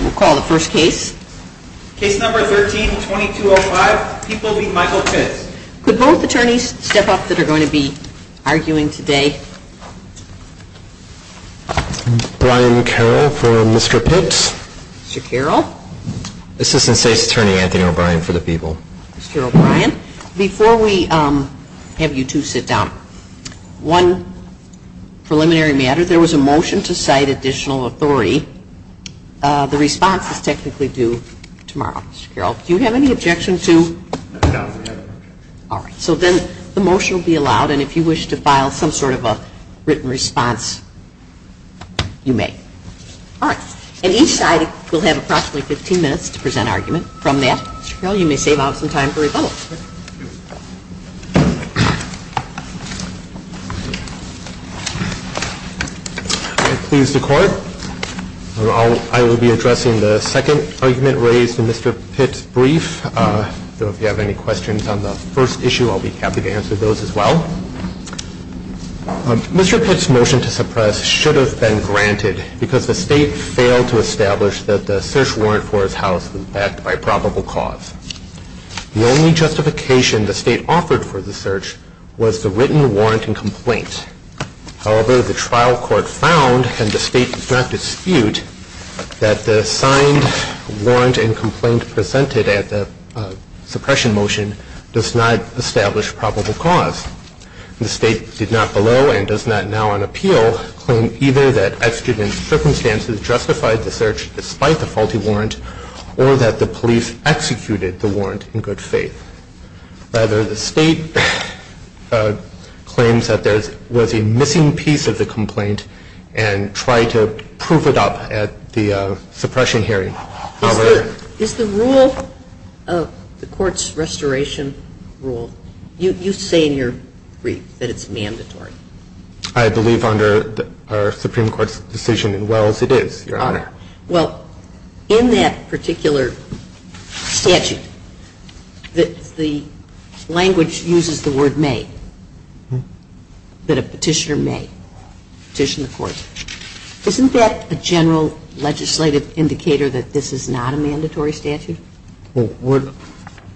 We'll call the first case. Case number 13-2205, People v. Michael Pitts. Could both attorneys step up that are going to be arguing today? Brian Carroll for Mr. Pitts. Mr. Carroll. Assistant State's Attorney Anthony O'Brien for the People. Mr. O'Brien. Before we have you two sit down, one preliminary matter. If there was a motion to cite additional authority, the response is technically due tomorrow. Mr. Carroll, do you have any objection to? No, we have no objection. All right. So then the motion will be allowed, and if you wish to file some sort of a written response, you may. All right. And each side will have approximately 15 minutes to present argument. From that, Mr. Carroll, you may save out some time for rebuttal. Please, the Court. I will be addressing the second argument raised in Mr. Pitts' brief. If you have any questions on the first issue, I'll be happy to answer those as well. Mr. Pitts' motion to suppress should have been granted because the State failed to establish that the search warrant for his house was backed by probable cause. The only justification the State offered for the search was the written warrant and complaint. However, the trial court found, and the State does not dispute, that the signed warrant and complaint presented at the suppression motion does not establish probable cause. The State did not below, and does not now on appeal, claim either that exigent circumstances justified the search despite the faulty warrant or that the police executed the warrant in good faith. Rather, the State claims that there was a missing piece of the complaint and tried to prove it up at the suppression hearing. Is the rule of the court's restoration rule, you say in your brief that it's mandatory. I believe under our Supreme Court's decision in Wells, it is, Your Honor. Well, in that particular statute, the language uses the word may, that a petitioner may petition the court. Isn't that a general legislative indicator that this is not a mandatory statute? Well,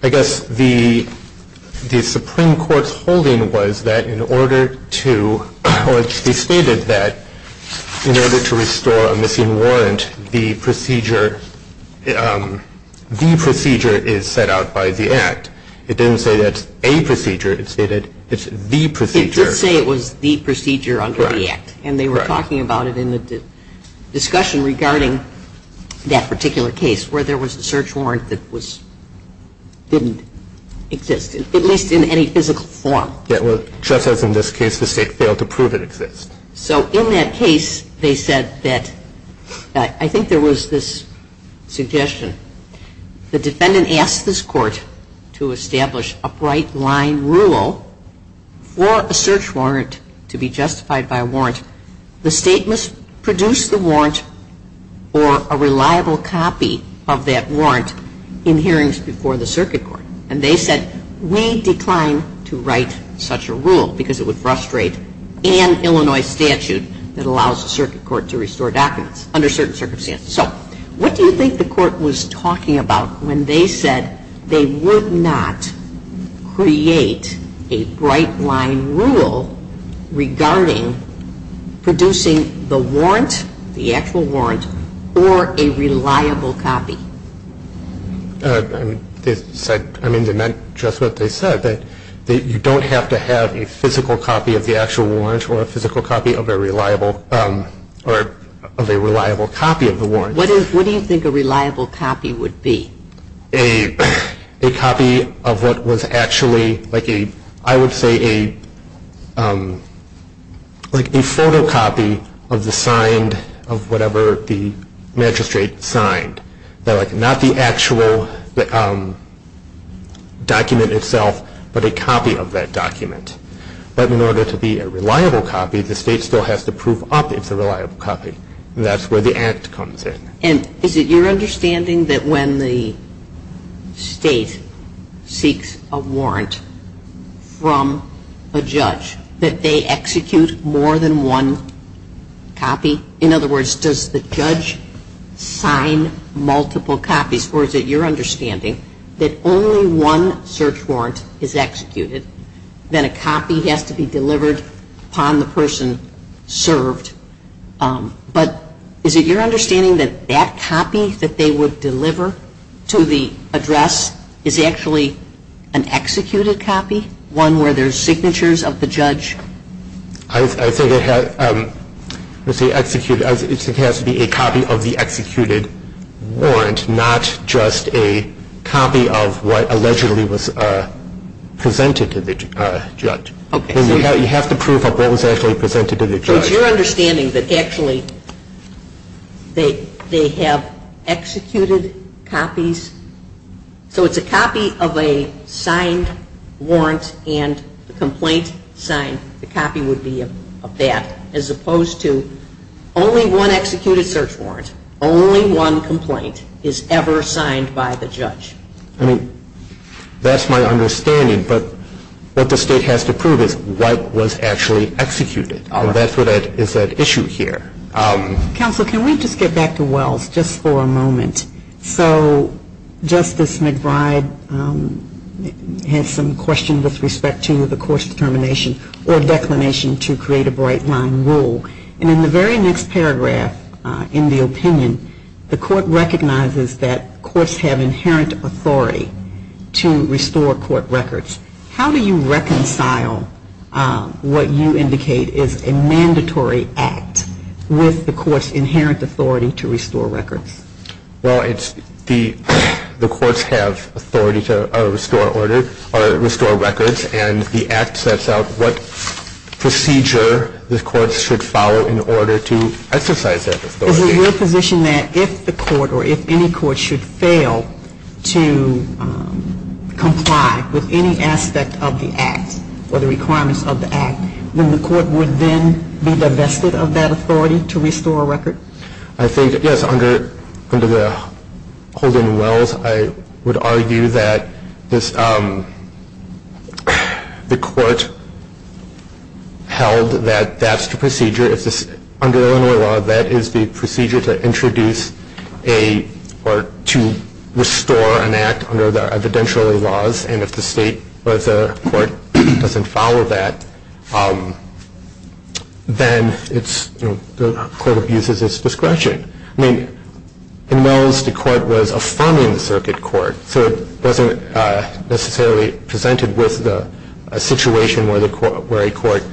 I guess the Supreme Court's holding was that in order to, well, it's stated that in order to restore a missing warrant, the procedure, the procedure is set out by the Act. It didn't say that's a procedure. It stated it's the procedure. It did say it was the procedure under the Act. Correct. And they were talking about it in the discussion regarding that particular case where there was a search warrant that was, didn't exist, at least in any physical form. Yes, well, just as in this case, the State failed to prove it exists. So in that case, they said that, I think there was this suggestion. The defendant asked this court to establish a bright line rule for a search warrant to be justified by a warrant. The State must produce the warrant or a reliable copy of that warrant in hearings before the circuit court. And they said, we decline to write such a rule because it would frustrate an Illinois statute that allows a circuit court to restore documents under certain circumstances. So what do you think the court was talking about when they said they would not create a bright line rule regarding producing the warrant, the actual warrant, or a reliable copy? I mean, they meant just what they said, that you don't have to have a physical copy of the actual warrant or a physical copy of a reliable copy of the warrant. What do you think a reliable copy would be? A copy of what was actually, I would say, a photocopy of the signed, of whatever the magistrate signed. Not the actual document itself, but a copy of that document. But in order to be a reliable copy, the State still has to prove up it's a reliable copy. That's where the act comes in. And is it your understanding that when the State seeks a warrant from a judge, that they execute more than one copy? In other words, does the judge sign multiple copies? Or is it your understanding that only one search warrant is executed, then a copy has to be delivered upon the person served? But is it your understanding that that copy that they would deliver to the address is actually an executed copy? One where there's signatures of the judge? I think it has to be a copy of the executed warrant, not just a copy of what allegedly was presented to the judge. Okay. You have to prove up what was actually presented to the judge. So it's your understanding that actually they have executed copies? So it's a copy of a signed warrant and the complaint signed. The copy would be of that, as opposed to only one executed search warrant. Only one complaint is ever signed by the judge. I mean, that's my understanding. But what the State has to prove is what was actually executed. And that's what is at issue here. Counsel, can we just get back to Wells just for a moment? So Justice McBride has some questions with respect to the court's determination or declination to create a bright-line rule. And in the very next paragraph in the opinion, the court recognizes that courts have inherent authority to restore court records. How do you reconcile what you indicate is a mandatory act with the court's inherent authority to restore records? Well, the courts have authority to restore records. And the act sets out what procedure the courts should follow in order to exercise that authority. Is it your position that if the court, or if any court, should fail to comply with any aspect of the act or the requirements of the act, then the court would then be divested of that authority to restore a record? I think, yes, under the Holden and Wells, I would argue that the court held that that's the procedure. Under Illinois law, that is the procedure to introduce or to restore an act under the evidentiary laws. And if the state or the court doesn't follow that, then the court abuses its discretion. I mean, in Wells, the court was affirming the circuit court, so it wasn't necessarily presented with a situation where a court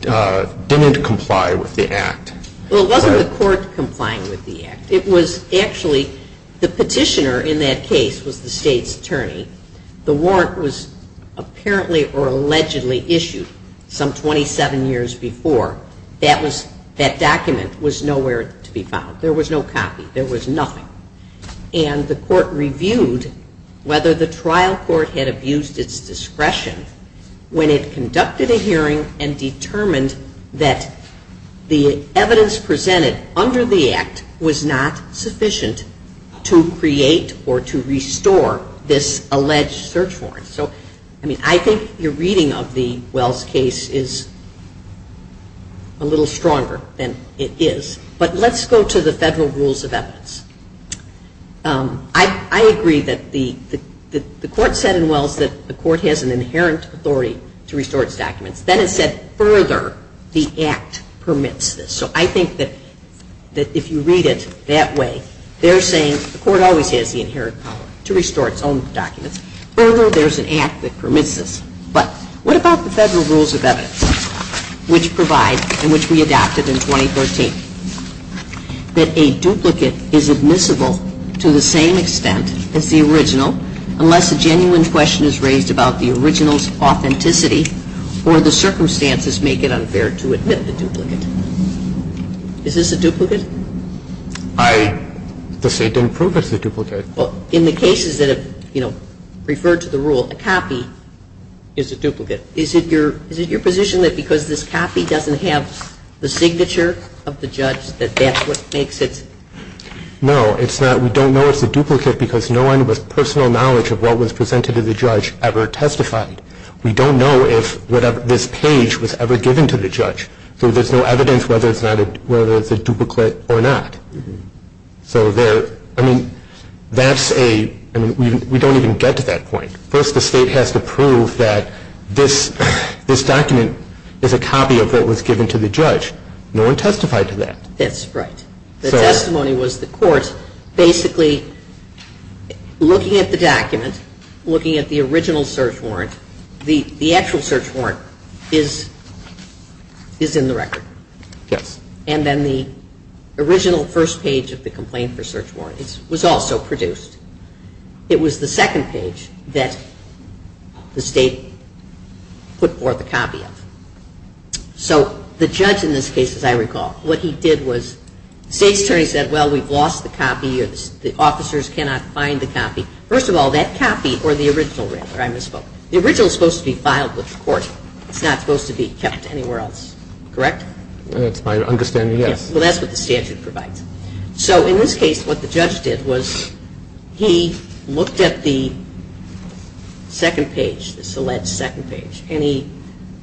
didn't comply with the act. Well, it wasn't the court complying with the act. It was actually the petitioner in that case was the state's attorney. The warrant was apparently or allegedly issued some 27 years before. That document was nowhere to be found. There was no copy. There was nothing. And the court reviewed whether the trial court had abused its discretion when it conducted a hearing and determined that the evidence presented under the act was not sufficient to create or to restore this alleged search warrant. So, I mean, I think your reading of the Wells case is a little stronger than it is. But let's go to the federal rules of evidence. I agree that the court said in Wells that the court has an inherent authority to restore its documents. Then it said further the act permits this. So I think that if you read it that way, they're saying the court always has the inherent power to restore its own documents. Further, there's an act that permits this. But what about the federal rules of evidence which provide and which we adopted in 2013? That a duplicate is admissible to the same extent as the original unless a genuine question is raised about the original's authenticity or the circumstances make it unfair to admit the duplicate. Is this a duplicate? The state didn't prove it's a duplicate. Well, in the cases that have, you know, referred to the rule, a copy is a duplicate. Is it your position that because this copy doesn't have the signature of the judge that that's what makes it? No, it's not. We don't know it's a duplicate because no one with personal knowledge of what was presented to the judge ever testified. We don't know if this page was ever given to the judge. So there's no evidence whether it's a duplicate or not. So there, I mean, that's a, I mean, we don't even get to that point. First, the state has to prove that this document is a copy of what was given to the judge. No one testified to that. That's right. The testimony was the court basically looking at the document, looking at the original search warrant. The actual search warrant is in the record. Yes. And then the original first page of the complaint for search warrant was also produced. It was the second page that the state put forth a copy of. So the judge in this case, as I recall, what he did was the state's attorney said, well, we've lost the copy. The officers cannot find the copy. First of all, that copy or the original record, I misspoke. The original is supposed to be filed with the court. It's not supposed to be kept anywhere else. Correct? That's my understanding, yes. Well, that's what the statute provides. So in this case, what the judge did was he looked at the second page, the alleged second page, and he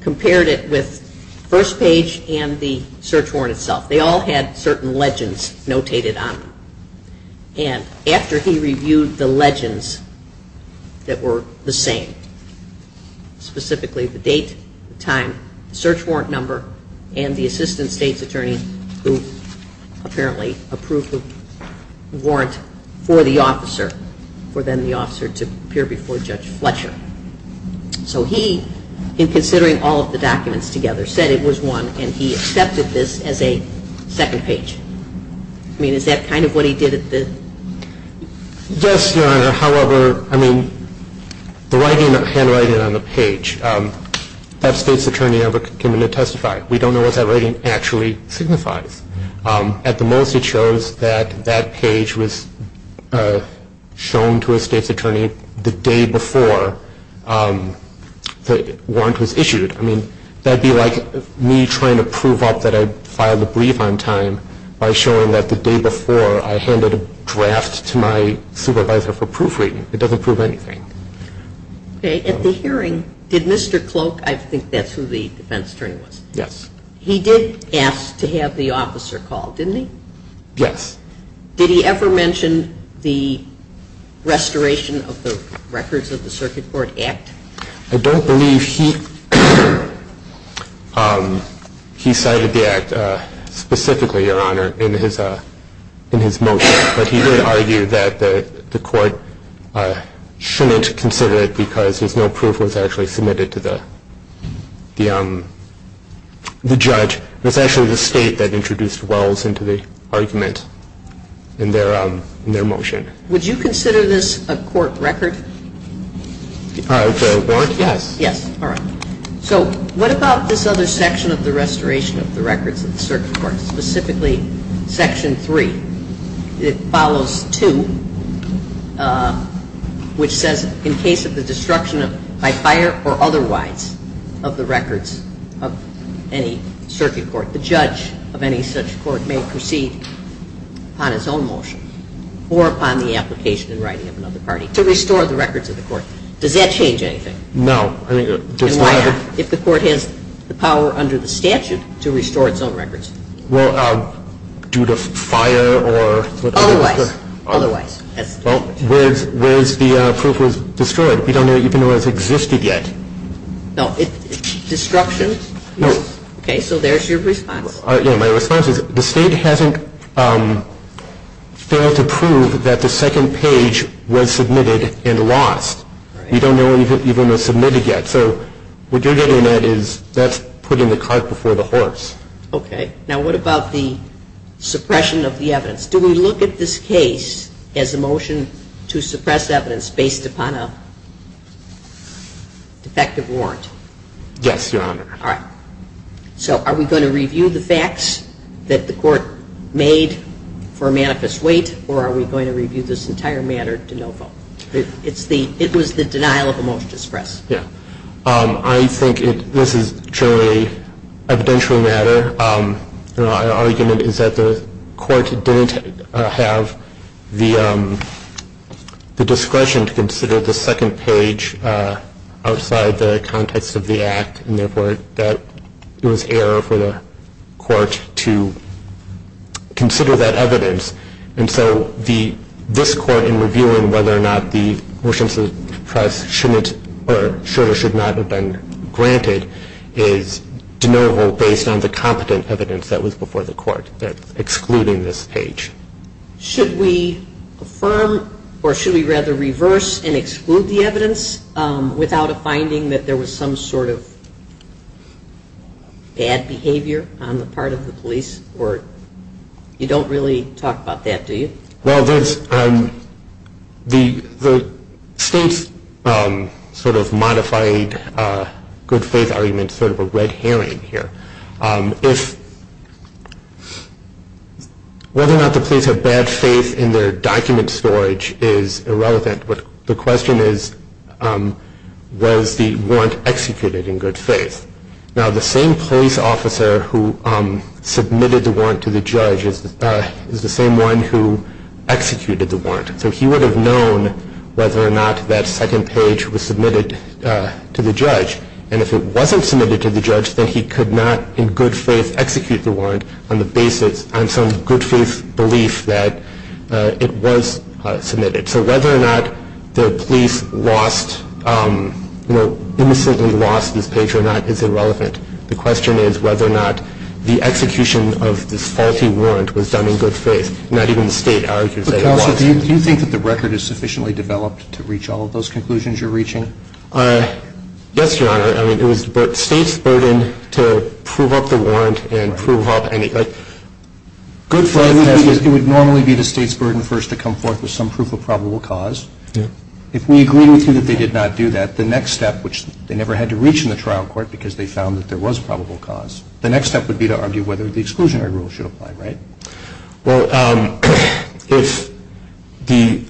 compared it with first page and the search warrant itself. They all had certain legends notated on them. And after he reviewed the legends that were the same, specifically the date, the time, the search warrant number, and the assistant state's attorney who apparently approved the warrant for the officer, for then the officer to appear before Judge Fletcher. So he, in considering all of the documents together, said it was one, and he accepted this as a second page. I mean, is that kind of what he did at the? Yes, Your Honor. However, I mean, the handwriting on the page, that state's attorney never came in to testify. We don't know what that writing actually signifies. At the most, it shows that that page was shown to a state's attorney the day before the warrant was issued. I mean, that would be like me trying to prove up that I filed a brief on time by showing that the day before I handed a draft to my supervisor for proofreading. It doesn't prove anything. Okay. At the hearing, did Mr. Cloak, I think that's who the defense attorney was. Yes. He did ask to have the officer called, didn't he? Yes. Did he ever mention the restoration of the records of the Circuit Court Act? I don't believe he cited the act specifically, Your Honor, in his motion. But he did argue that the court shouldn't consider it because there's no proof it was actually submitted to the judge. It was actually the state that introduced Wells into the argument in their motion. Would you consider this a court record? The part of the warrant? Yes. Yes. All right. So what about this other section of the restoration of the records of the Circuit Court, specifically Section 3? It follows 2, which says in case of the destruction by fire or otherwise of the records of any circuit court, the judge of any such court may proceed upon his own motion or upon the application and writing of another party to restore the records of the court. Does that change anything? No. And why not? If the court has the power under the statute to restore its own records. Well, due to fire or otherwise. Otherwise. Well, whereas the proof was destroyed. We don't even know it existed yet. No. Destruction? No. Okay. So there's your response. My response is the state hasn't failed to prove that the second page was submitted and lost. We don't know if it even was submitted yet. So what you're getting at is that's putting the cart before the horse. Okay. Now what about the suppression of the evidence? Do we look at this case as a motion to suppress evidence based upon a defective warrant? Yes, Your Honor. All right. So are we going to review the facts that the court made for manifest weight or are we going to review this entire matter de novo? It was the denial of a motion to suppress. Yes. I think this is truly an evidential matter. Our argument is that the court didn't have the discretion to consider the second page outside the context of the act and therefore it was error for the court to consider that evidence. And so this court in reviewing whether or not the motion to suppress should or should not have been granted is de novo based on the competent evidence that was before the court excluding this page. Should we affirm or should we rather reverse and exclude the evidence without a finding that there was some sort of bad behavior on the part of the police? Or you don't really talk about that, do you? Well, the state's sort of modified good faith argument is sort of a red herring here. Whether or not the police have bad faith in their document storage is irrelevant, but the question is was the warrant executed in good faith? Now the same police officer who submitted the warrant to the judge is the same one who executed the warrant. So he would have known whether or not that second page was submitted to the judge, and if it wasn't submitted to the judge then he could not in good faith execute the warrant on the basis of some good faith belief that it was submitted. So whether or not the police lost, you know, innocently lost this page or not is irrelevant. The question is whether or not the execution of this faulty warrant was done in good faith. Not even the state argues that it was. Counsel, do you think that the record is sufficiently developed to reach all of those conclusions you're reaching? Yes, Your Honor. I mean, it was the state's burden to prove up the warrant and prove up any, like, good faith. My question is it would normally be the state's burden first to come forth with some proof of probable cause. If we agree with you that they did not do that, the next step, which they never had to reach in the trial court because they found that there was probable cause, the next step would be to argue whether the exclusionary rule should apply, right? Well, if the,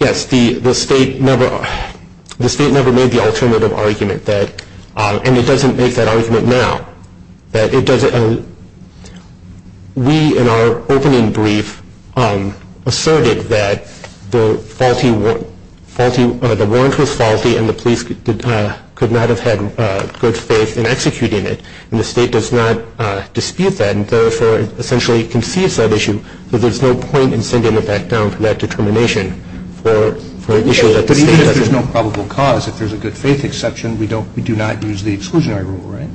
yes, the state never made the alternative argument that, and it doesn't make that argument now, that it doesn't, we in our opening brief asserted that the faulty, the warrant was faulty and the police could not have had good faith in executing it. And the state does not dispute that and therefore essentially conceives that issue. So there's no point in sending it back down to that determination for an issue that the state doesn't. If there's no probable cause, if there's a good faith exception, we don't, we do not use the exclusionary rule, right?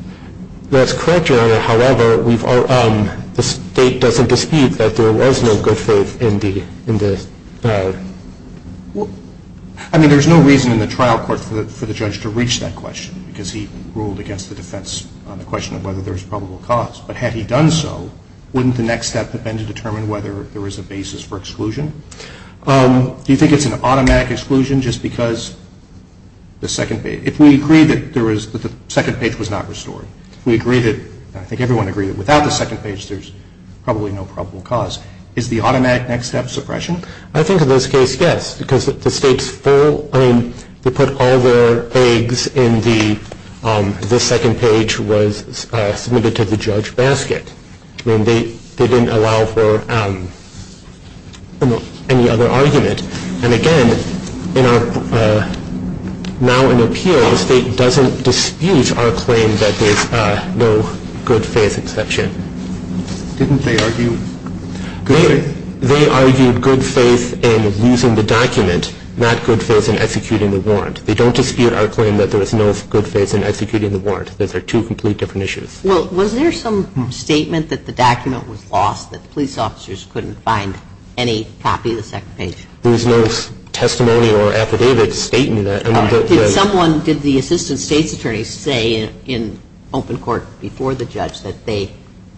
That's correct, Your Honor. However, we've, the state doesn't dispute that there was no good faith in the, in the. I mean, there's no reason in the trial court for the judge to reach that question because he ruled against the defense on the question of whether there's probable cause. But had he done so, wouldn't the next step have been to determine whether there was a basis for exclusion? Do you think it's an automatic exclusion just because the second page, if we agree that there was, that the second page was not restored, if we agree that, I think everyone would agree that without the second page there's probably no probable cause, is the automatic next step suppression? I think in this case, yes, because the state's full, I mean, they put all their eggs in the, the second page was submitted to the judge basket. I mean, they, they didn't allow for any other argument. And again, in our, now in appeal, the state doesn't dispute our claim that there's no good faith exception. Didn't they argue good faith? They argued good faith in using the document, not good faith in executing the warrant. They don't dispute our claim that there was no good faith in executing the warrant. Those are two complete different issues. Well, was there some statement that the document was lost, that the police officers couldn't find any copy of the second page? There was no testimony or affidavit stating that. Did someone, did the assistant state's attorney say in open court before the judge that they,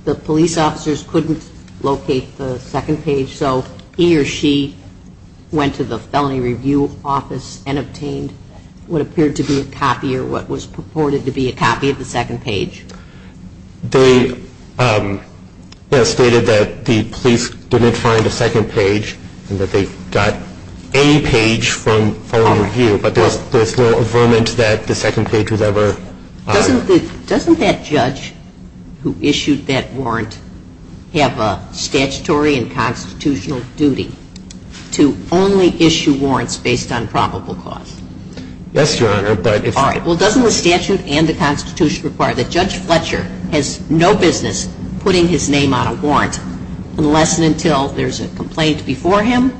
the police officers couldn't locate the second page, so he or she went to the felony review office and obtained what appeared to be a copy or what was purported to be a copy of the second page? They, you know, stated that the police didn't find a second page and that they got any page from felony review, but there's no affirmance that the second page was ever. Doesn't the, doesn't that judge who issued that warrant have a statutory and constitutional duty to only issue warrants based on probable cause? Yes, Your Honor, but if. All right. Well, doesn't the statute and the Constitution require that Judge Fletcher has no business putting his name on a warrant unless and until there's a complaint before him,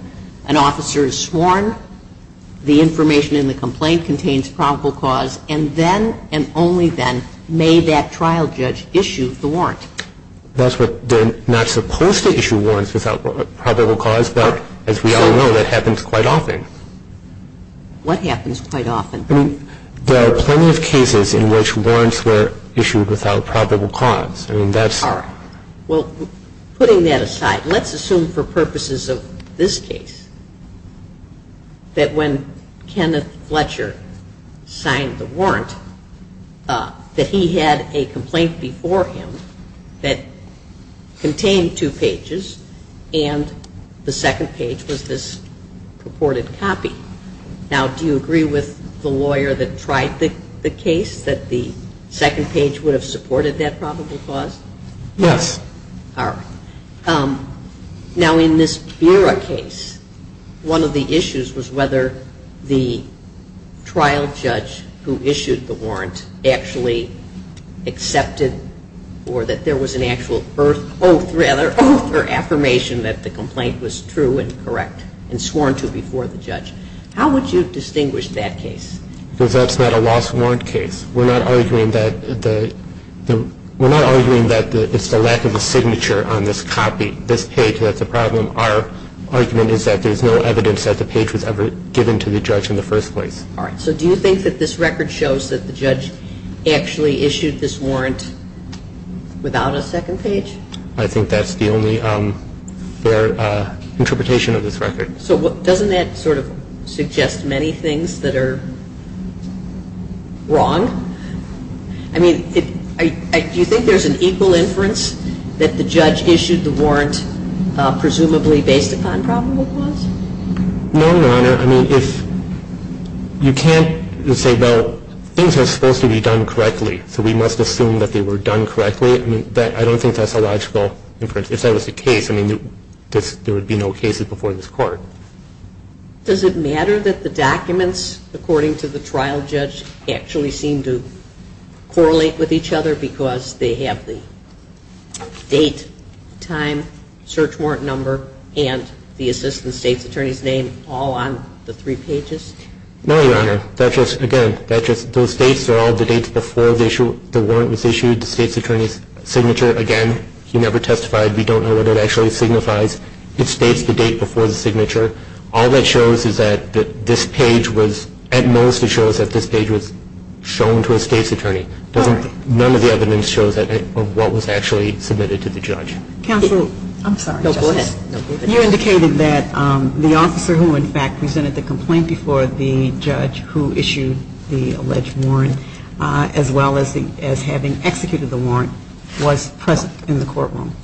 an officer is sworn, the information in the complaint contains probable cause, and then and only then may that trial judge issue the warrant? That's what they're not supposed to issue warrants without probable cause, but as we all know, that happens quite often. What happens quite often? I mean, there are plenty of cases in which warrants were issued without probable cause. I mean, that's. All right. Well, putting that aside, let's assume for purposes of this case that when Kenneth Fletcher signed the warrant that he had a complaint before him that contained two pages and the second page was this purported copy. Now, do you agree with the lawyer that tried the case that the second page would have supported that probable cause? Yes. All right. Now, in this Vera case, one of the issues was whether the trial judge who issued the warrant actually accepted or that there was an actual oath or affirmation that the complaint was true and correct and sworn to before the judge. How would you distinguish that case? Because that's not a lost warrant case. We're not arguing that it's the lack of a signature on this copy, this page, that's a problem. Our argument is that there's no evidence that the page was ever given to the judge in the first place. All right. So do you think that this record shows that the judge actually issued this warrant without a second page? I think that's the only fair interpretation of this record. So doesn't that sort of suggest many things that are wrong? I mean, do you think there's an equal inference that the judge issued the warrant presumably based upon probable cause? No, Your Honor. I mean, if you can't say, well, things are supposed to be done correctly, so we must assume that they were done correctly. I don't think that's a logical inference. If that was the case, I mean, there would be no cases before this Court. Does it matter that the documents according to the trial judge actually seem to correlate with each other because they have the date, time, search warrant number, and the assistant state's attorney's name all on the three pages? No, Your Honor. Again, those dates are all the dates before the warrant was issued. The state's attorney's signature, again, he never testified. We don't know what it actually signifies. It states the date before the signature. All that shows is that this page was at most it shows that this page was shown to a state's attorney. None of the evidence shows what was actually submitted to the judge. Counsel, I'm sorry. No, go ahead. You indicated that the officer who, in fact, presented the complaint before the judge who issued the alleged warrant, as well as having executed the warrant, was present in the courtroom,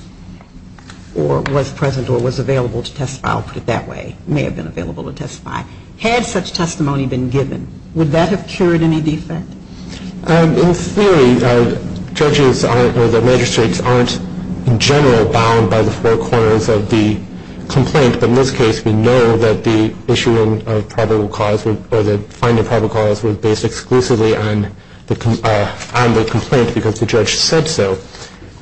or was present or was available to testify. I'll put it that way. May have been available to testify. Had such testimony been given, would that have cured any defect? In theory, judges aren't, or the magistrates aren't, in general, bound by the four corners of the complaint. But in this case, we know that the issuing of probable cause, or the finding of probable cause was based exclusively on the complaint because the judge said so.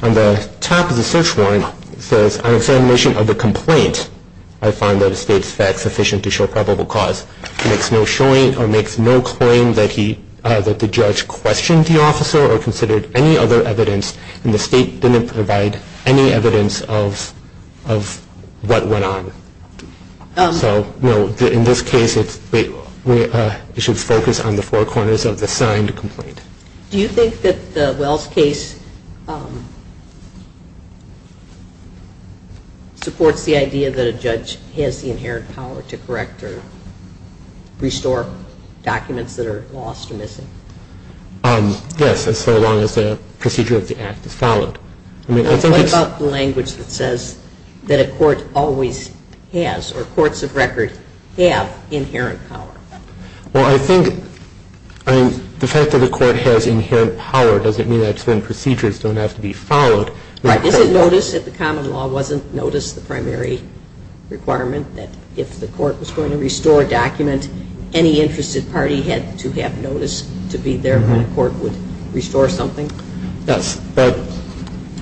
On the top of the search warrant, it says, On examination of the complaint, I find that the state's facts sufficient to show probable cause. It makes no claim that the judge questioned the officer or considered any other evidence, and the state didn't provide any evidence of what went on. So, no, in this case, it should focus on the four corners of the signed complaint. Do you think that the Wells case supports the idea that a judge has the inherent power to correct or restore documents that are lost or missing? Yes, as long as the procedure of the act is followed. What about the language that says that a court always has, or courts of record have, inherent power? Well, I think, I mean, the fact that the court has inherent power doesn't mean that certain procedures don't have to be followed. Right. Is it notice that the common law wasn't notice the primary requirement that if the court was going to restore a document, any interested party had to have notice to be there when a court would restore something? Yes. But,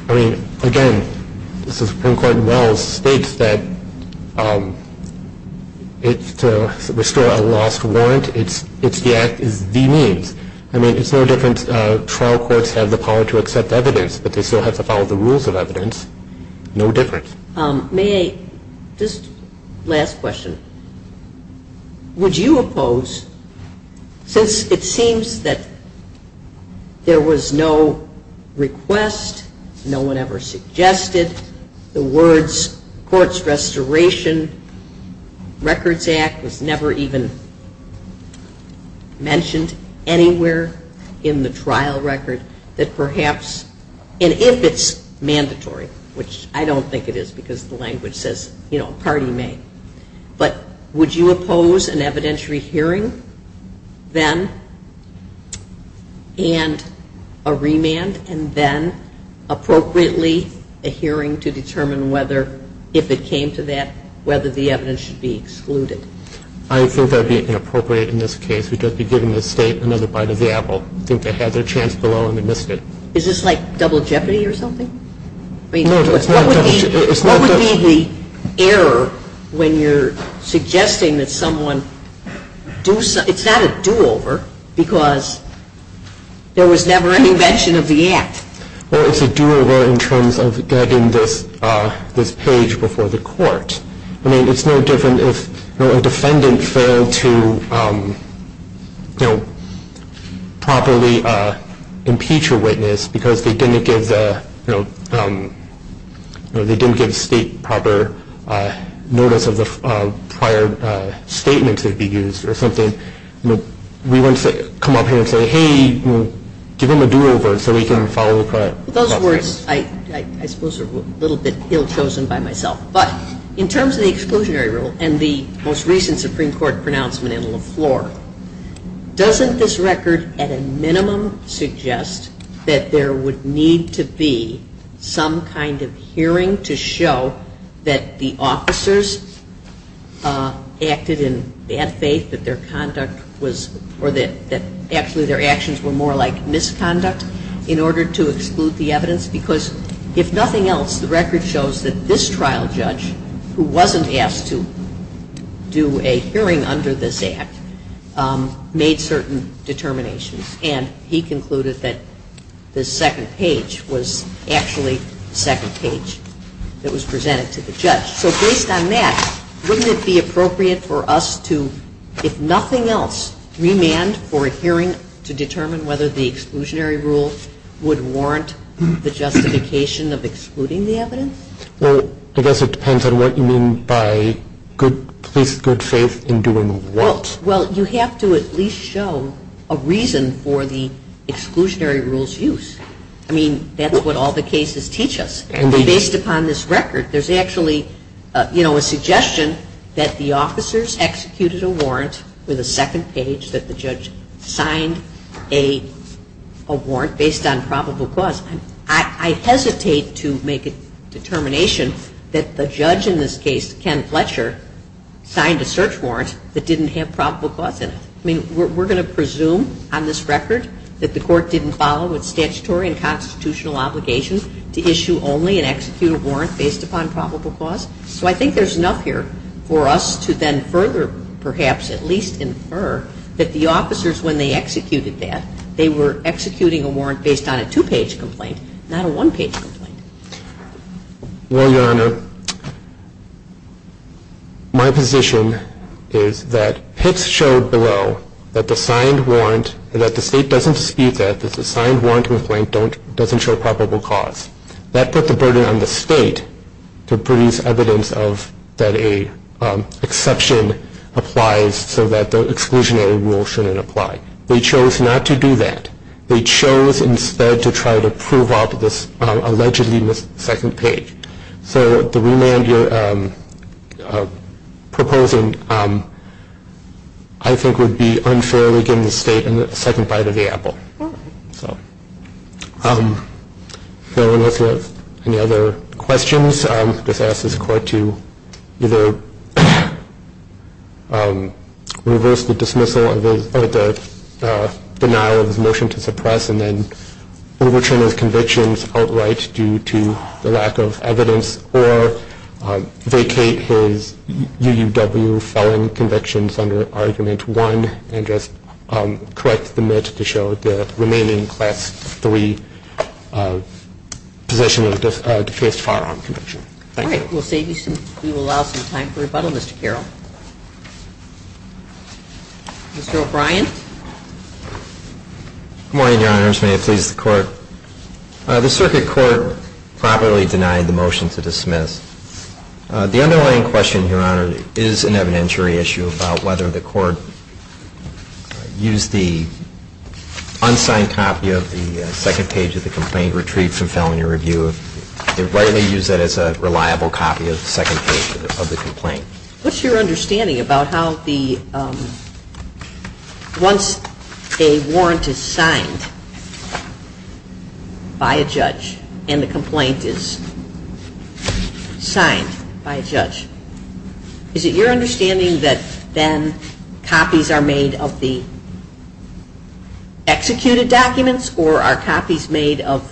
I mean, again, the Supreme Court in Wells states that to restore a lost warrant, it's the act, it's the means. I mean, it's no different trial courts have the power to accept evidence, but they still have to follow the rules of evidence. No difference. May I, just last question, would you oppose, since it seems that there was no request, no one ever suggested, the words courts restoration records act was never even mentioned anywhere in the trial record, that perhaps, and if it's mandatory, which I don't think it is because the language says, you know, a party may, but would you oppose an evidentiary hearing then and a remand and then appropriately a hearing to determine whether, if it came to that, whether the evidence should be excluded? I think that would be inappropriate in this case. We'd just be giving the State another bite of the apple. I think they had their chance below and they missed it. Is this like double jeopardy or something? No, it's not double jeopardy. What would be the error when you're suggesting that someone, it's not a do-over because there was never any mention of the act. Well, it's a do-over in terms of getting this page before the court. I mean, it's no different if a defendant failed to, you know, properly impeach a witness because they didn't give the, you know, they didn't give the State proper notice of the prior statement to be used or something. We wouldn't come up here and say, hey, give him a do-over so he can follow the process. Those words, I suppose, are a little bit ill-chosen by myself. But in terms of the exclusionary rule and the most recent Supreme Court pronouncement in LeFlore, doesn't this record at a minimum suggest that there would need to be some kind of hearing to show that the officers acted in bad faith, that their conduct was, or that actually their actions were more like misconduct in order to exclude the evidence? Because if nothing else, the record shows that this trial judge, who wasn't asked to do a hearing under this act, made certain determinations. And he concluded that the second page was actually the second page that was presented to the judge. So based on that, wouldn't it be appropriate for us to, if nothing else, remand for a hearing to determine whether the exclusionary rule would warrant the justification of excluding the evidence? Well, I guess it depends on what you mean by good faith in doing what? Well, you have to at least show a reason for the exclusionary rule's use. I mean, that's what all the cases teach us. Based upon this record, there's actually a suggestion that the officers executed a warrant with a second page that the judge signed a warrant based on probable cause. I hesitate to make a determination that the judge in this case, Ken Fletcher, signed a search warrant that didn't have probable cause in it. I mean, we're going to presume on this record that the Court didn't follow its statutory and constitutional obligation to issue only and execute a warrant based upon probable cause? So I think there's enough here for us to then further perhaps at least infer that the officers, when they executed that, they were executing a warrant based on a two-page complaint, not a one-page complaint. Well, Your Honor, my position is that Pitts showed below that the state doesn't dispute that, that the signed warrant complaint doesn't show probable cause. That put the burden on the state to produce evidence that an exception applies so that the exclusionary rule shouldn't apply. They chose not to do that. They chose instead to try to prove out this allegedly second page. So the remand you're proposing I think would be unfairly given the state a second bite of the apple. So I don't know if you have any other questions. I'll just ask this Court to either reverse the dismissal of the denial of his motion to suppress and then overturn his convictions outright due to the lack of evidence, or vacate his UUW felon convictions under Argument 1 and just correct the myth to show the remaining Class 3 position of defense firearm conviction. All right. We'll save you some time. We will allow some time for rebuttal, Mr. Carroll. Mr. O'Brien. May it please the Court. The Circuit Court properly denied the motion to dismiss. The underlying question, Your Honor, is an evidentiary issue about whether the Court used the unsigned copy of the second page of the complaint retrieved from felony review. They rightly used that as a reliable copy of the second page of the complaint. What's your understanding about how once a warrant is signed by a judge and the complaint is signed by a judge, is it your understanding that then copies are made of the executed documents or are copies made of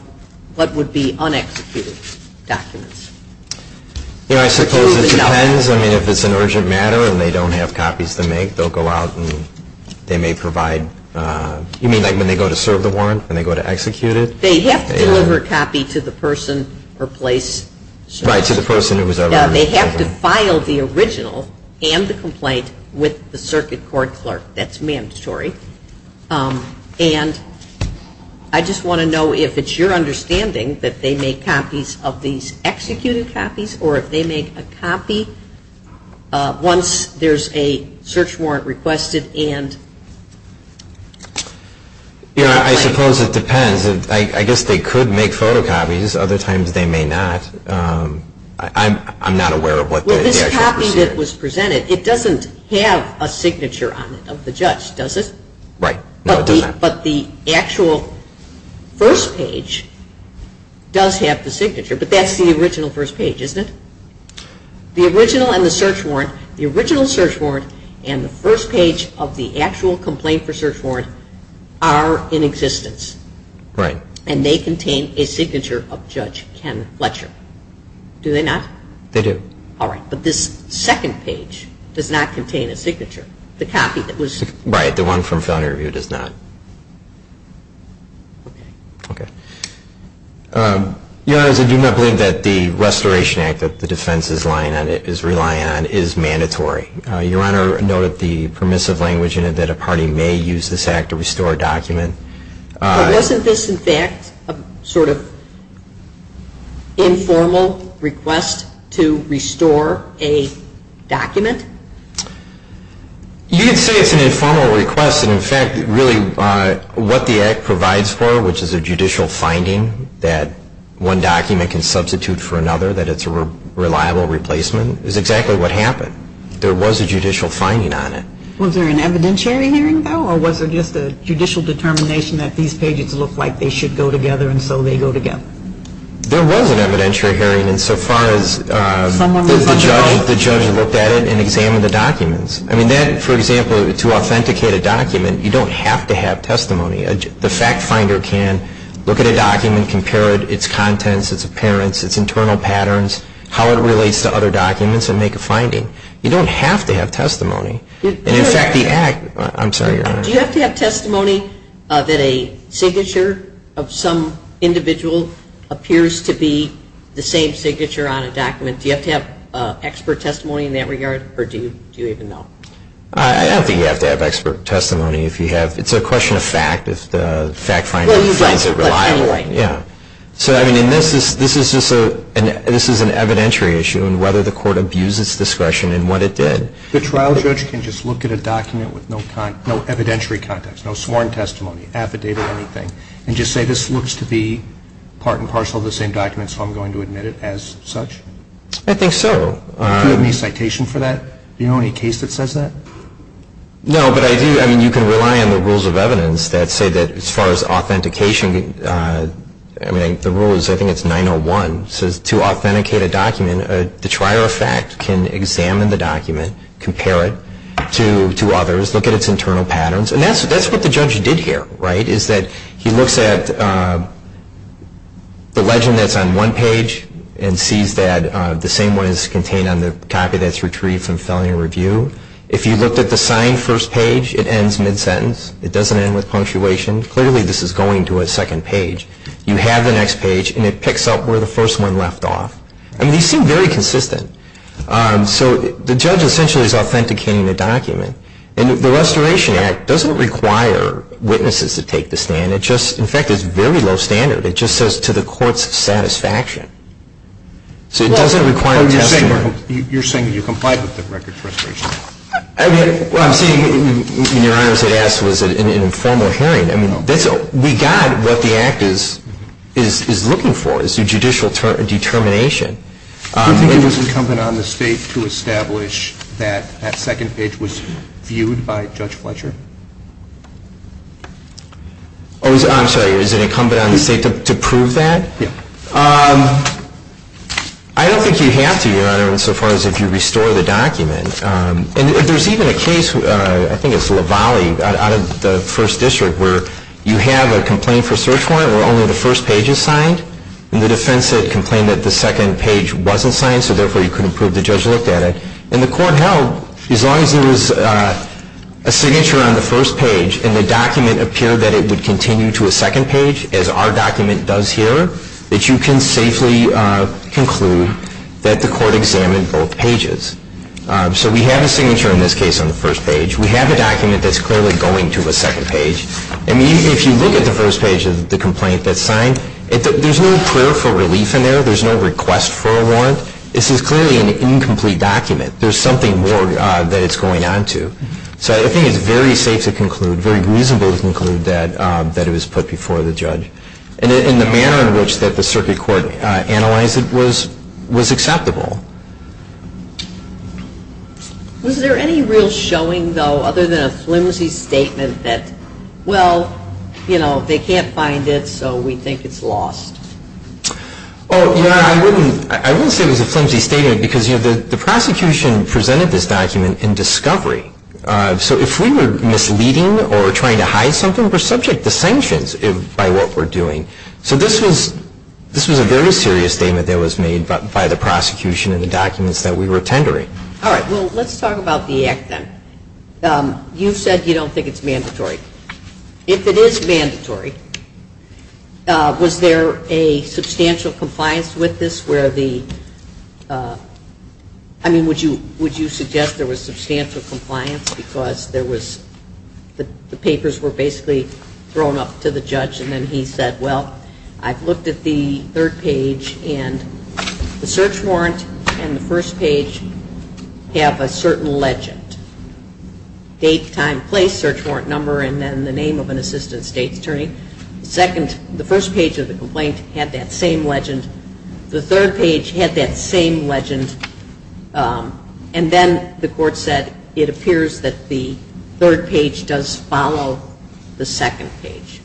what would be unexecuted documents? You know, I suppose it depends. I mean, if it's an urgent matter and they don't have copies to make, they'll go out and they may provide, you mean like when they go to serve the warrant, when they go to execute it? They have to deliver a copy to the person or place. Right, to the person who was over. Yeah, they have to file the original and the complaint with the Circuit Court clerk. That's mandatory. And I just want to know if it's your understanding that they make copies of these executed copies or if they make a copy once there's a search warrant requested and the complaint is signed. You know, I suppose it depends. I guess they could make photocopies. Other times they may not. I'm not aware of what the actual procedure is. It doesn't have a signature on it of the judge, does it? Right, no it doesn't. But the actual first page does have the signature, but that's the original first page, isn't it? The original and the search warrant, the original search warrant and the first page of the actual complaint for search warrant are in existence. Right. And they contain a signature of Judge Ken Fletcher. Do they not? They do. All right. But this second page does not contain a signature, the copy that was... Right, the one from felony review does not. Okay. Okay. Your Honor, I do not believe that the Restoration Act that the defense is relying on is mandatory. Your Honor noted the permissive language in it that a party may use this act to restore a document. But wasn't this in fact a sort of informal request to restore a document? You could say it's an informal request, and in fact really what the act provides for, which is a judicial finding that one document can substitute for another, that it's a reliable replacement, is exactly what happened. There was a judicial finding on it. Was there an evidentiary hearing, though, or was it just a judicial determination that these pages look like they should go together and so they go together? There was an evidentiary hearing insofar as the judge looked at it and examined the documents. I mean that, for example, to authenticate a document, you don't have to have testimony. The fact finder can look at a document, compare its contents, its appearance, its internal patterns, how it relates to other documents and make a finding. You don't have to have testimony. Do you have to have testimony that a signature of some individual appears to be the same signature on a document? Do you have to have expert testimony in that regard, or do you even know? I don't think you have to have expert testimony. It's a question of fact, if the fact finder finds it reliable. So this is an evidentiary issue in whether the court abused its discretion in what it did. The trial judge can just look at a document with no evidentiary context, no sworn testimony, affidavit or anything, and just say this looks to be part and parcel of the same document, so I'm going to admit it as such? I think so. Do you have any citation for that? Do you know any case that says that? No, but I do. I mean, you can rely on the rules of evidence that say that as far as authentication, I mean, the rule is I think it's 901. It says to authenticate a document, the trier of fact can examine the document, compare it to others, look at its internal patterns. And that's what the judge did here, right, is that he looks at the legend that's on one page and sees that the same one is contained on the copy that's retrieved from felony review. If you looked at the signed first page, it ends mid-sentence. It doesn't end with punctuation. Clearly, this is going to a second page. You have the next page, and it picks up where the first one left off. I mean, these seem very consistent. So the judge essentially is authenticating the document. And the Restoration Act doesn't require witnesses to take the stand. It just, in fact, is very low standard. It just says to the court's satisfaction. So it doesn't require testimony. You're saying that you complied with the Record Restoration Act? Well, I'm saying, Your Honor, as I asked, was it an informal hearing? I mean, we got what the Act is looking for, is a judicial determination. Do you think it was incumbent on the State to establish that that second page was viewed by Judge Fletcher? Oh, I'm sorry. Is it incumbent on the State to prove that? Yeah. I don't think you have to, Your Honor, insofar as if you restore the document. And if there's even a case, I think it's Lavallee out of the First District, where you have a complaint for search warrant where only the first page is signed, and the defense complained that the second page wasn't signed, so therefore you couldn't prove the judge looked at it. And the court held, as long as there was a signature on the first page and the document appeared that it would continue to a second page, as our document does here, that you can safely conclude that the court examined both pages. So we have a signature in this case on the first page. We have a document that's clearly going to a second page. I mean, if you look at the first page of the complaint that's signed, there's no prayer for relief in there. There's no request for a warrant. This is clearly an incomplete document. There's something more that it's going on to. So I think it's very safe to conclude, very reasonable to conclude, that it was put before the judge. And the manner in which the circuit court analyzed it was acceptable. Was there any real showing, though, other than a flimsy statement that, well, you know, they can't find it, so we think it's lost? Oh, yeah, I wouldn't say it was a flimsy statement, because, you know, the prosecution presented this document in discovery. So if we were misleading or trying to hide something, we're subject to sanctions by what we're doing. So this was a very serious statement that was made by the prosecution in the documents that we were tendering. All right, well, let's talk about the Act then. You said you don't think it's mandatory. If it is mandatory, was there a substantial compliance with this where the – I mean, would you suggest there was substantial compliance because there was – the papers were basically thrown up to the judge, and then he said, well, I've looked at the third page, and the search warrant and the first page have a certain legend. Date, time, place, search warrant number, and then the name of an assistant state's attorney. The second – the first page of the complaint had that same legend. The third page had that same legend, and then the court said it appears that the third page does follow the second page.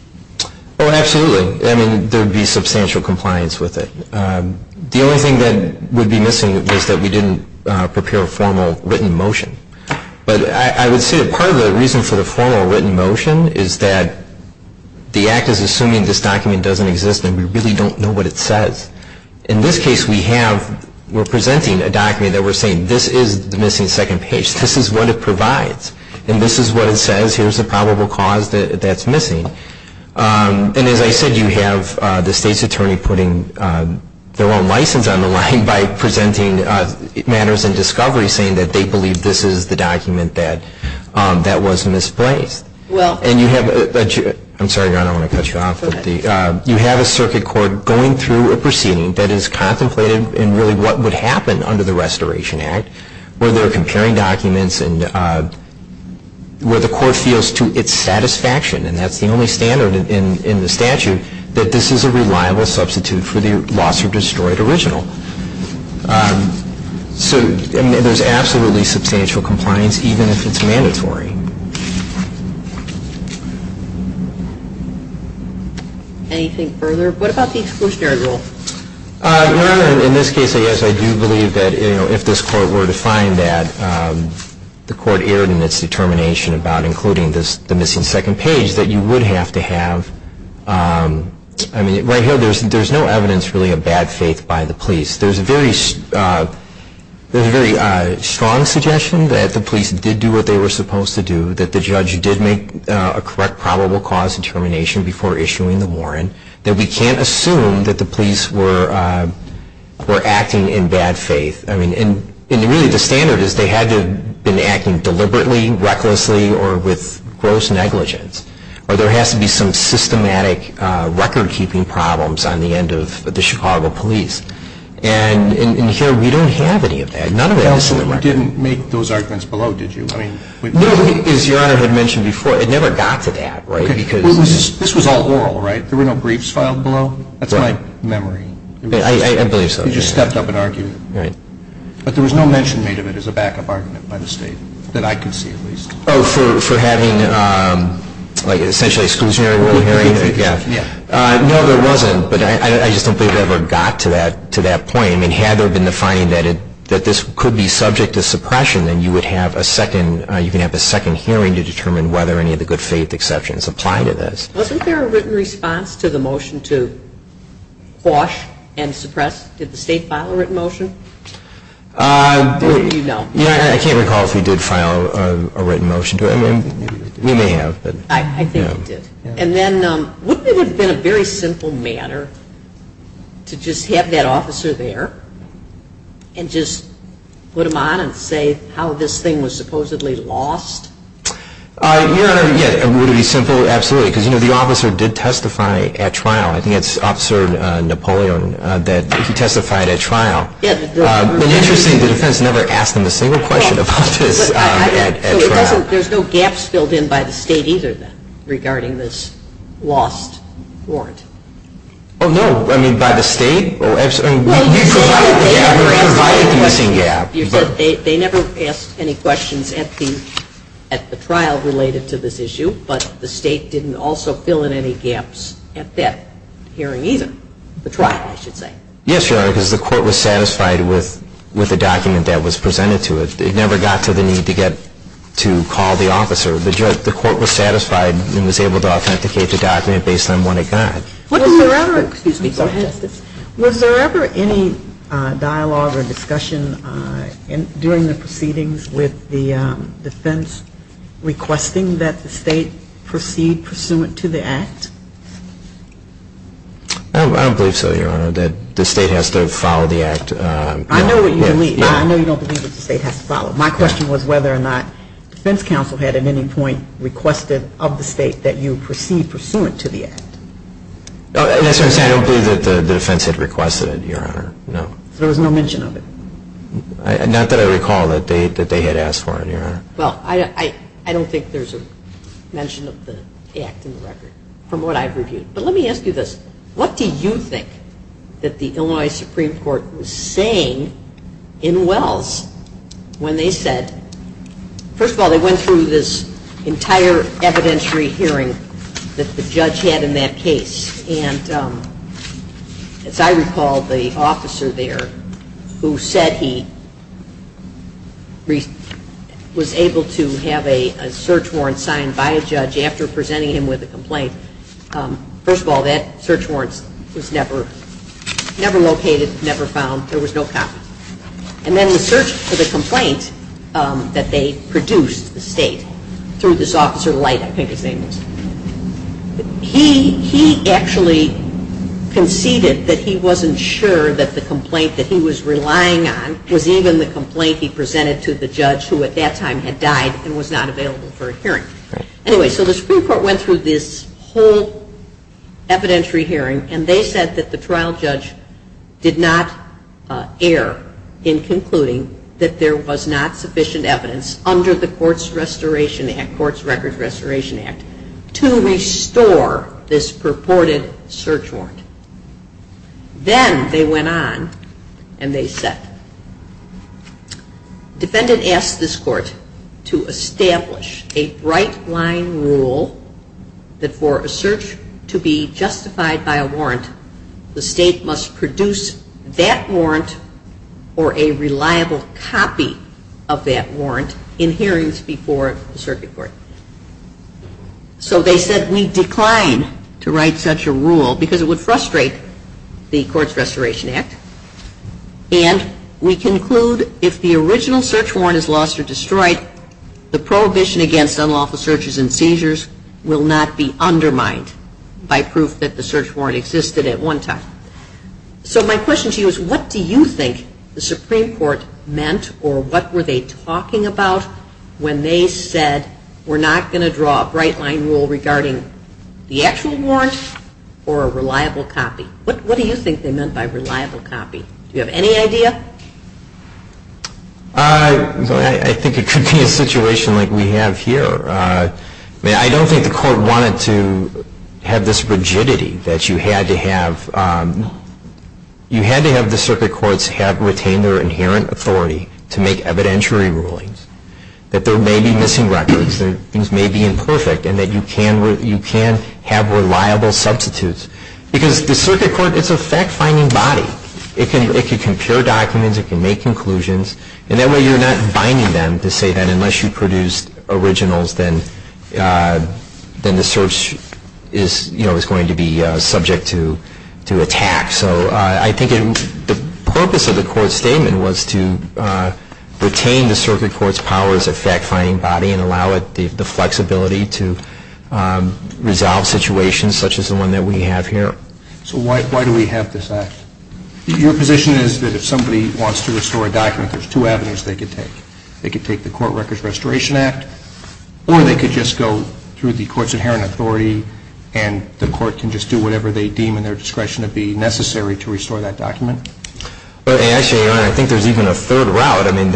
Oh, absolutely. I mean, there would be substantial compliance with it. The only thing that would be missing is that we didn't prepare a formal written motion. But I would say that part of the reason for the formal written motion is that the Act is assuming this document doesn't exist, and we really don't know what it says. In this case, we have – we're presenting a document that we're saying, this is the missing second page. This is what it provides, and this is what it says. Here's the probable cause that that's missing. And as I said, you have the state's attorney putting their own license on the line by presenting matters in discovery, saying that they believe this is the document that was misplaced. I'm sorry, Your Honor, I want to cut you off. You have a circuit court going through a proceeding that is contemplated in really what would happen under the Restoration Act, where they're comparing documents and where the court feels to its satisfaction, and that's the only standard in the statute, that this is a reliable substitute for the lost or destroyed original. So there's absolutely substantial compliance, even if it's mandatory. Anything further? What about the exclusionary rule? Your Honor, in this case, I guess I do believe that if this court were to find that the court erred in its determination about including the missing second page, that you would have to have – I mean, right here, there's no evidence really of bad faith by the police. There's a very strong suggestion that the police did do what they were supposed to do, that the judge did make a correct probable cause determination before issuing the warrant, that we can't assume that the police were acting in bad faith. I mean, and really the standard is they had to have been acting deliberately, recklessly, or with gross negligence. Well, there has to be some systematic record-keeping problems on the end of the Chicago police. And here we don't have any of that. None of it is in the record. You didn't make those arguments below, did you? No, because your Honor had mentioned before, it never got to that, right? This was all oral, right? There were no briefs filed below? That's my memory. I believe so. You just stepped up and argued it. Right. But there was no mention made of it as a backup argument by the state, that I could see at least. Oh, for having essentially exclusionary oral hearing? Yeah. No, there wasn't. But I just don't believe it ever got to that point. I mean, had there been the finding that this could be subject to suppression, then you would have a second hearing to determine whether any of the good faith exceptions apply to this. Wasn't there a written response to the motion to quash and suppress? Did the state file a written motion? I can't recall if we did file a written motion. We may have. I think we did. And then, wouldn't it have been a very simple matter to just have that officer there and just put him on and say how this thing was supposedly lost? Your Honor, yeah, it would have been simple, absolutely, because the officer did testify at trial. I think it's Officer Napoleon that he testified at trial. But interestingly, the defense never asked him a single question about this at trial. So there's no gaps filled in by the state either then regarding this lost warrant? Oh, no. I mean, by the state? Well, you provided the gap. We provided the missing gap. You said they never asked any questions at the trial related to this issue, but the state didn't also fill in any gaps at that hearing either, the trial, I should say. Yes, Your Honor, because the court was satisfied with the document that was presented to it. It never got to the need to call the officer. The court was satisfied and was able to authenticate the document based on what it got. Was there ever any dialogue or discussion during the proceedings with the defense requesting that the state proceed pursuant to the Act? I don't believe so, Your Honor, that the state has to follow the Act. I know what you believe, but I know you don't believe that the state has to follow it. My question was whether or not the defense counsel had at any point requested of the state that you proceed pursuant to the Act. I don't believe that the defense had requested it, Your Honor, no. So there was no mention of it? Not that I recall that they had asked for it, Your Honor. Well, I don't think there's a mention of the Act in the record from what I've reviewed. But let me ask you this. What do you think that the Illinois Supreme Court was saying in Wells when they said, first of all, they went through this entire evidentiary hearing that the judge had in that case. And as I recall, the officer there who said he was able to have a search warrant signed by a judge after presenting him with a complaint, first of all, that search warrant was never located, never found. There was no copy. And then the search for the complaint that they produced, the state, through this officer Light, I think his name was, he actually conceded that he wasn't sure that the complaint that he was relying on was even the complaint he presented to the judge who at that time had died and was not available for a hearing. Anyway, so the Supreme Court went through this whole evidentiary hearing and they said that the trial judge did not err in concluding that there was not sufficient evidence under the Courts Restoration Act, Courts Records Restoration Act, to restore this purported search warrant. Then they went on and they said, defendant asked this court to establish a bright line rule that for a search to be justified by a warrant, the state must produce that warrant or a reliable copy of that warrant in hearings before the circuit court. So they said we decline to write such a rule because it would frustrate the Courts Restoration Act and we conclude if the original search warrant is lost or destroyed, the prohibition against unlawful searches and seizures will not be undermined by proof that the search warrant existed at one time. So my question to you is what do you think the Supreme Court meant or what were they talking about when they said we're not going to draw a bright line rule regarding the actual warrant or a reliable copy? What do you think they meant by reliable copy? Do you have any idea? I think it could be a situation like we have here. I don't think the court wanted to have this rigidity that you had to have the circuit courts have retained their inherent authority to make evidentiary rulings, that there may be missing records, things may be imperfect, and that you can have reliable substitutes. Because the circuit court is a fact-finding body. It can compare documents, it can make conclusions, and that way you're not binding them to say that unless you produce originals, then the search is going to be subject to attack. So I think the purpose of the court's statement was to retain the circuit court's powers of fact-finding body and allow the flexibility to resolve situations such as the one that we have here. So why do we have this act? Your position is that if somebody wants to restore a document, there's two avenues they could take. They could take the Court Records Restoration Act, or they could just go through the court's inherent authority and the court can just do whatever they deem in their discretion to be necessary to restore that document? Actually, Your Honor, I think there's even a third route. I mean,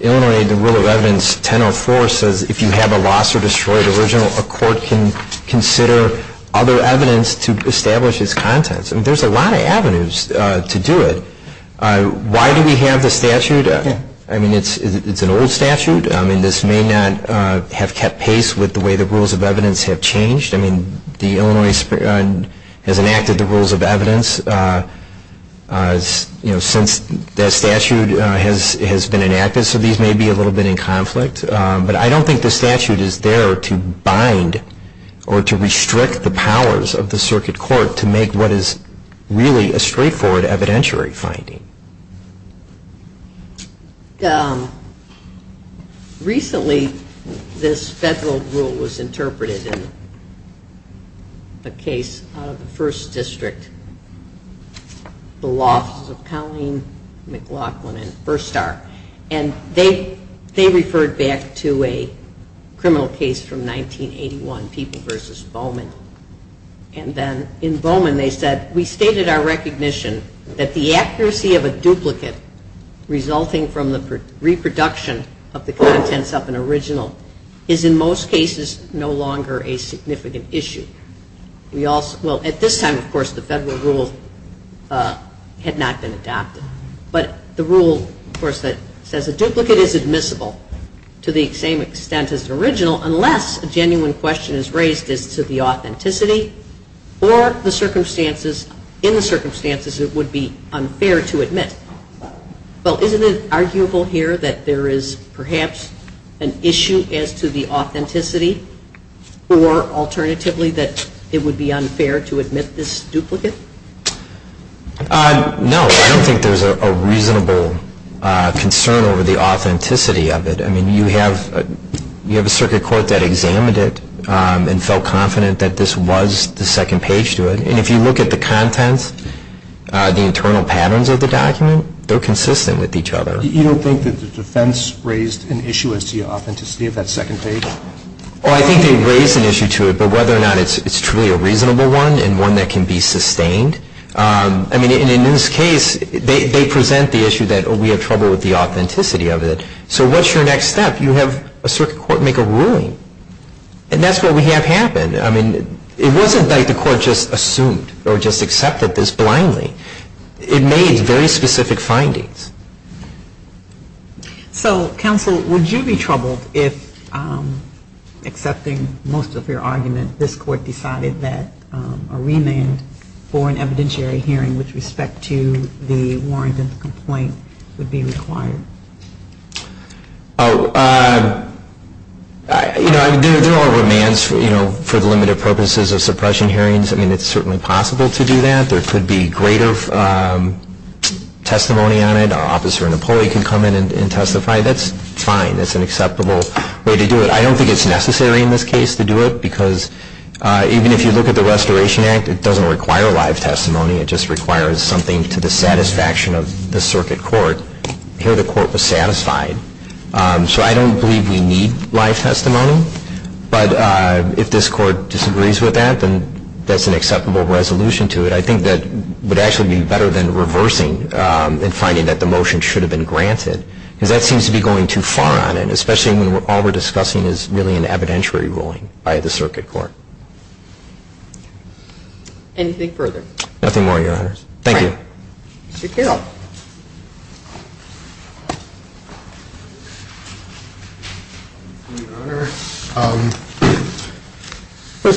Illinois Rule of Evidence 1004 says if you have a lost or destroyed original, a court can consider other evidence to establish its contents. There's a lot of avenues to do it. Why do we have the statute? I mean, it's an old statute. I mean, this may not have kept pace with the way the rules of evidence have changed. I mean, Illinois has enacted the rules of evidence. You know, since that statute has been enacted, so these may be a little bit in conflict. But I don't think the statute is there to bind or to restrict the powers of the circuit court to make what is really a straightforward evidentiary finding. Recently, this federal rule was interpreted in a case out of the 1st District, the Law Offices of Colleen McLaughlin and Firstar. And they referred back to a criminal case from 1981, People v. Bowman. And then in Bowman, they said, we stated our recognition that the accuracy of a duplicate resulting from the reproduction of the contents of an original is in most cases no longer a significant issue. Well, at this time, of course, the federal rule had not been adopted. But the rule, of course, that says a duplicate is admissible to the same extent as an original unless a genuine question is raised as to the authenticity or the circumstances in the circumstances it would be unfair to admit. Well, isn't it arguable here that there is perhaps an issue as to the authenticity or alternatively that it would be unfair to admit this duplicate? No, I don't think there's a reasonable concern over the authenticity of it. I mean, you have a circuit court that examined it and felt confident that this was the second page to it. And if you look at the contents, the internal patterns of the document, they're consistent with each other. You don't think that the defense raised an issue as to the authenticity of that second page? Oh, I think they raised an issue to it, but whether or not it's truly a reasonable one and one that can be sustained. I mean, in this case, they present the issue that we have trouble with the authenticity of it. So what's your next step? You have a circuit court make a ruling. And that's what we have happen. I mean, it wasn't like the court just assumed or just accepted this blindly. It made very specific findings. So, counsel, would you be troubled if, accepting most of your argument, this court decided that a remand for an evidentiary hearing with respect to the warrant for an evident complaint would be required? Oh, you know, there are remands for the limited purposes of suppression hearings. I mean, it's certainly possible to do that. There could be greater testimony on it. An officer in a pulley can come in and testify. That's fine. That's an acceptable way to do it. I don't think it's necessary in this case to do it, because even if you look at the Restoration Act, it doesn't require live testimony. It just requires something to the satisfaction of the circuit court. Here the court was satisfied. So I don't believe we need live testimony. But if this court disagrees with that, then that's an acceptable resolution to it. I think that would actually be better than reversing and finding that the motion should have been granted, because that seems to be going too far on it, especially when all we're discussing is really an evidentiary ruling by the circuit court. Anything further? Nothing more, Your Honors. Thank you. Mr. Carroll. Your Honor,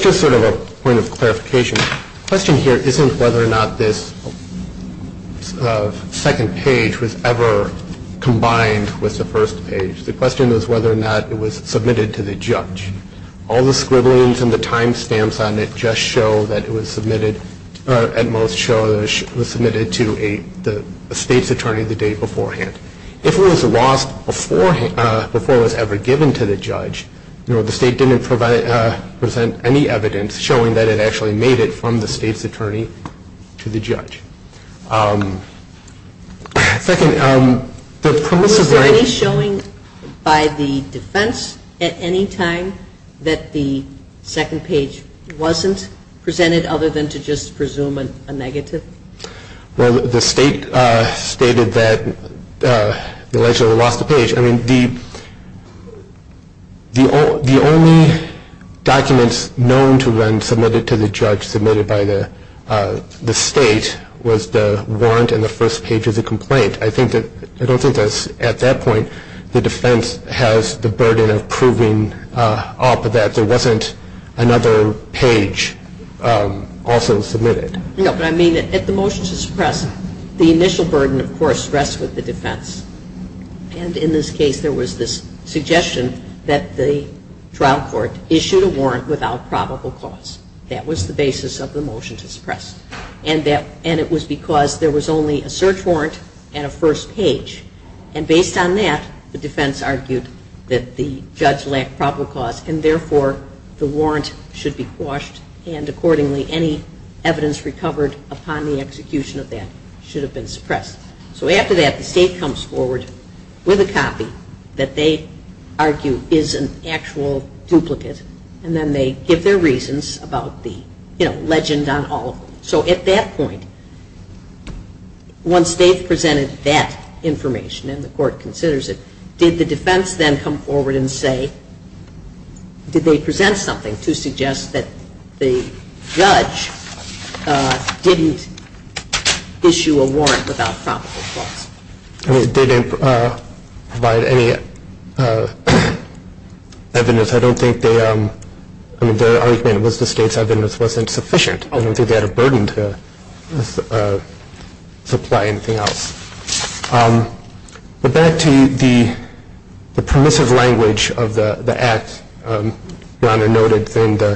just sort of a point of clarification. The question here isn't whether or not this second page was ever combined with the first page. The question is whether or not it was submitted to the judge. All the scribblings and the time stamps on it just show that it was submitted or at most show that it was submitted to the State's attorney the day beforehand. If it was lost before it was ever given to the judge, the State didn't present any evidence showing that it actually made it from the State's attorney to the judge. Second, the premise of the question… Was there any showing by the defense at any time that the second page wasn't presented other than to just presume a negative? Well, the State stated that the legislator lost the page. I mean, the only documents known to have been submitted to the judge submitted by the State was the warrant and the first page of the complaint. I don't think at that point the defense has the burden of proving that there wasn't another page also submitted. No, but I mean at the motion to suppress, the initial burden, of course, rests with the defense. And in this case, there was this suggestion that the trial court issued a warrant without probable cause. And it was because there was only a search warrant and a first page. And based on that, the defense argued that the judge lacked probable cause and therefore the warrant should be quashed and accordingly any evidence recovered upon the execution of that should have been suppressed. So after that, the State comes forward with a copy that they argue is an actual duplicate and then they give their reasons about the, you know, legend on all of them. So at that point, once they've presented that information and the court considers it, did the defense then come forward and say, did they present something to suggest that the judge didn't issue a warrant without probable cause? They didn't provide any evidence. I don't think they, I mean, their argument was the State's evidence wasn't sufficient. I don't think they had a burden to supply anything else. But back to the permissive language of the act, rather noted than the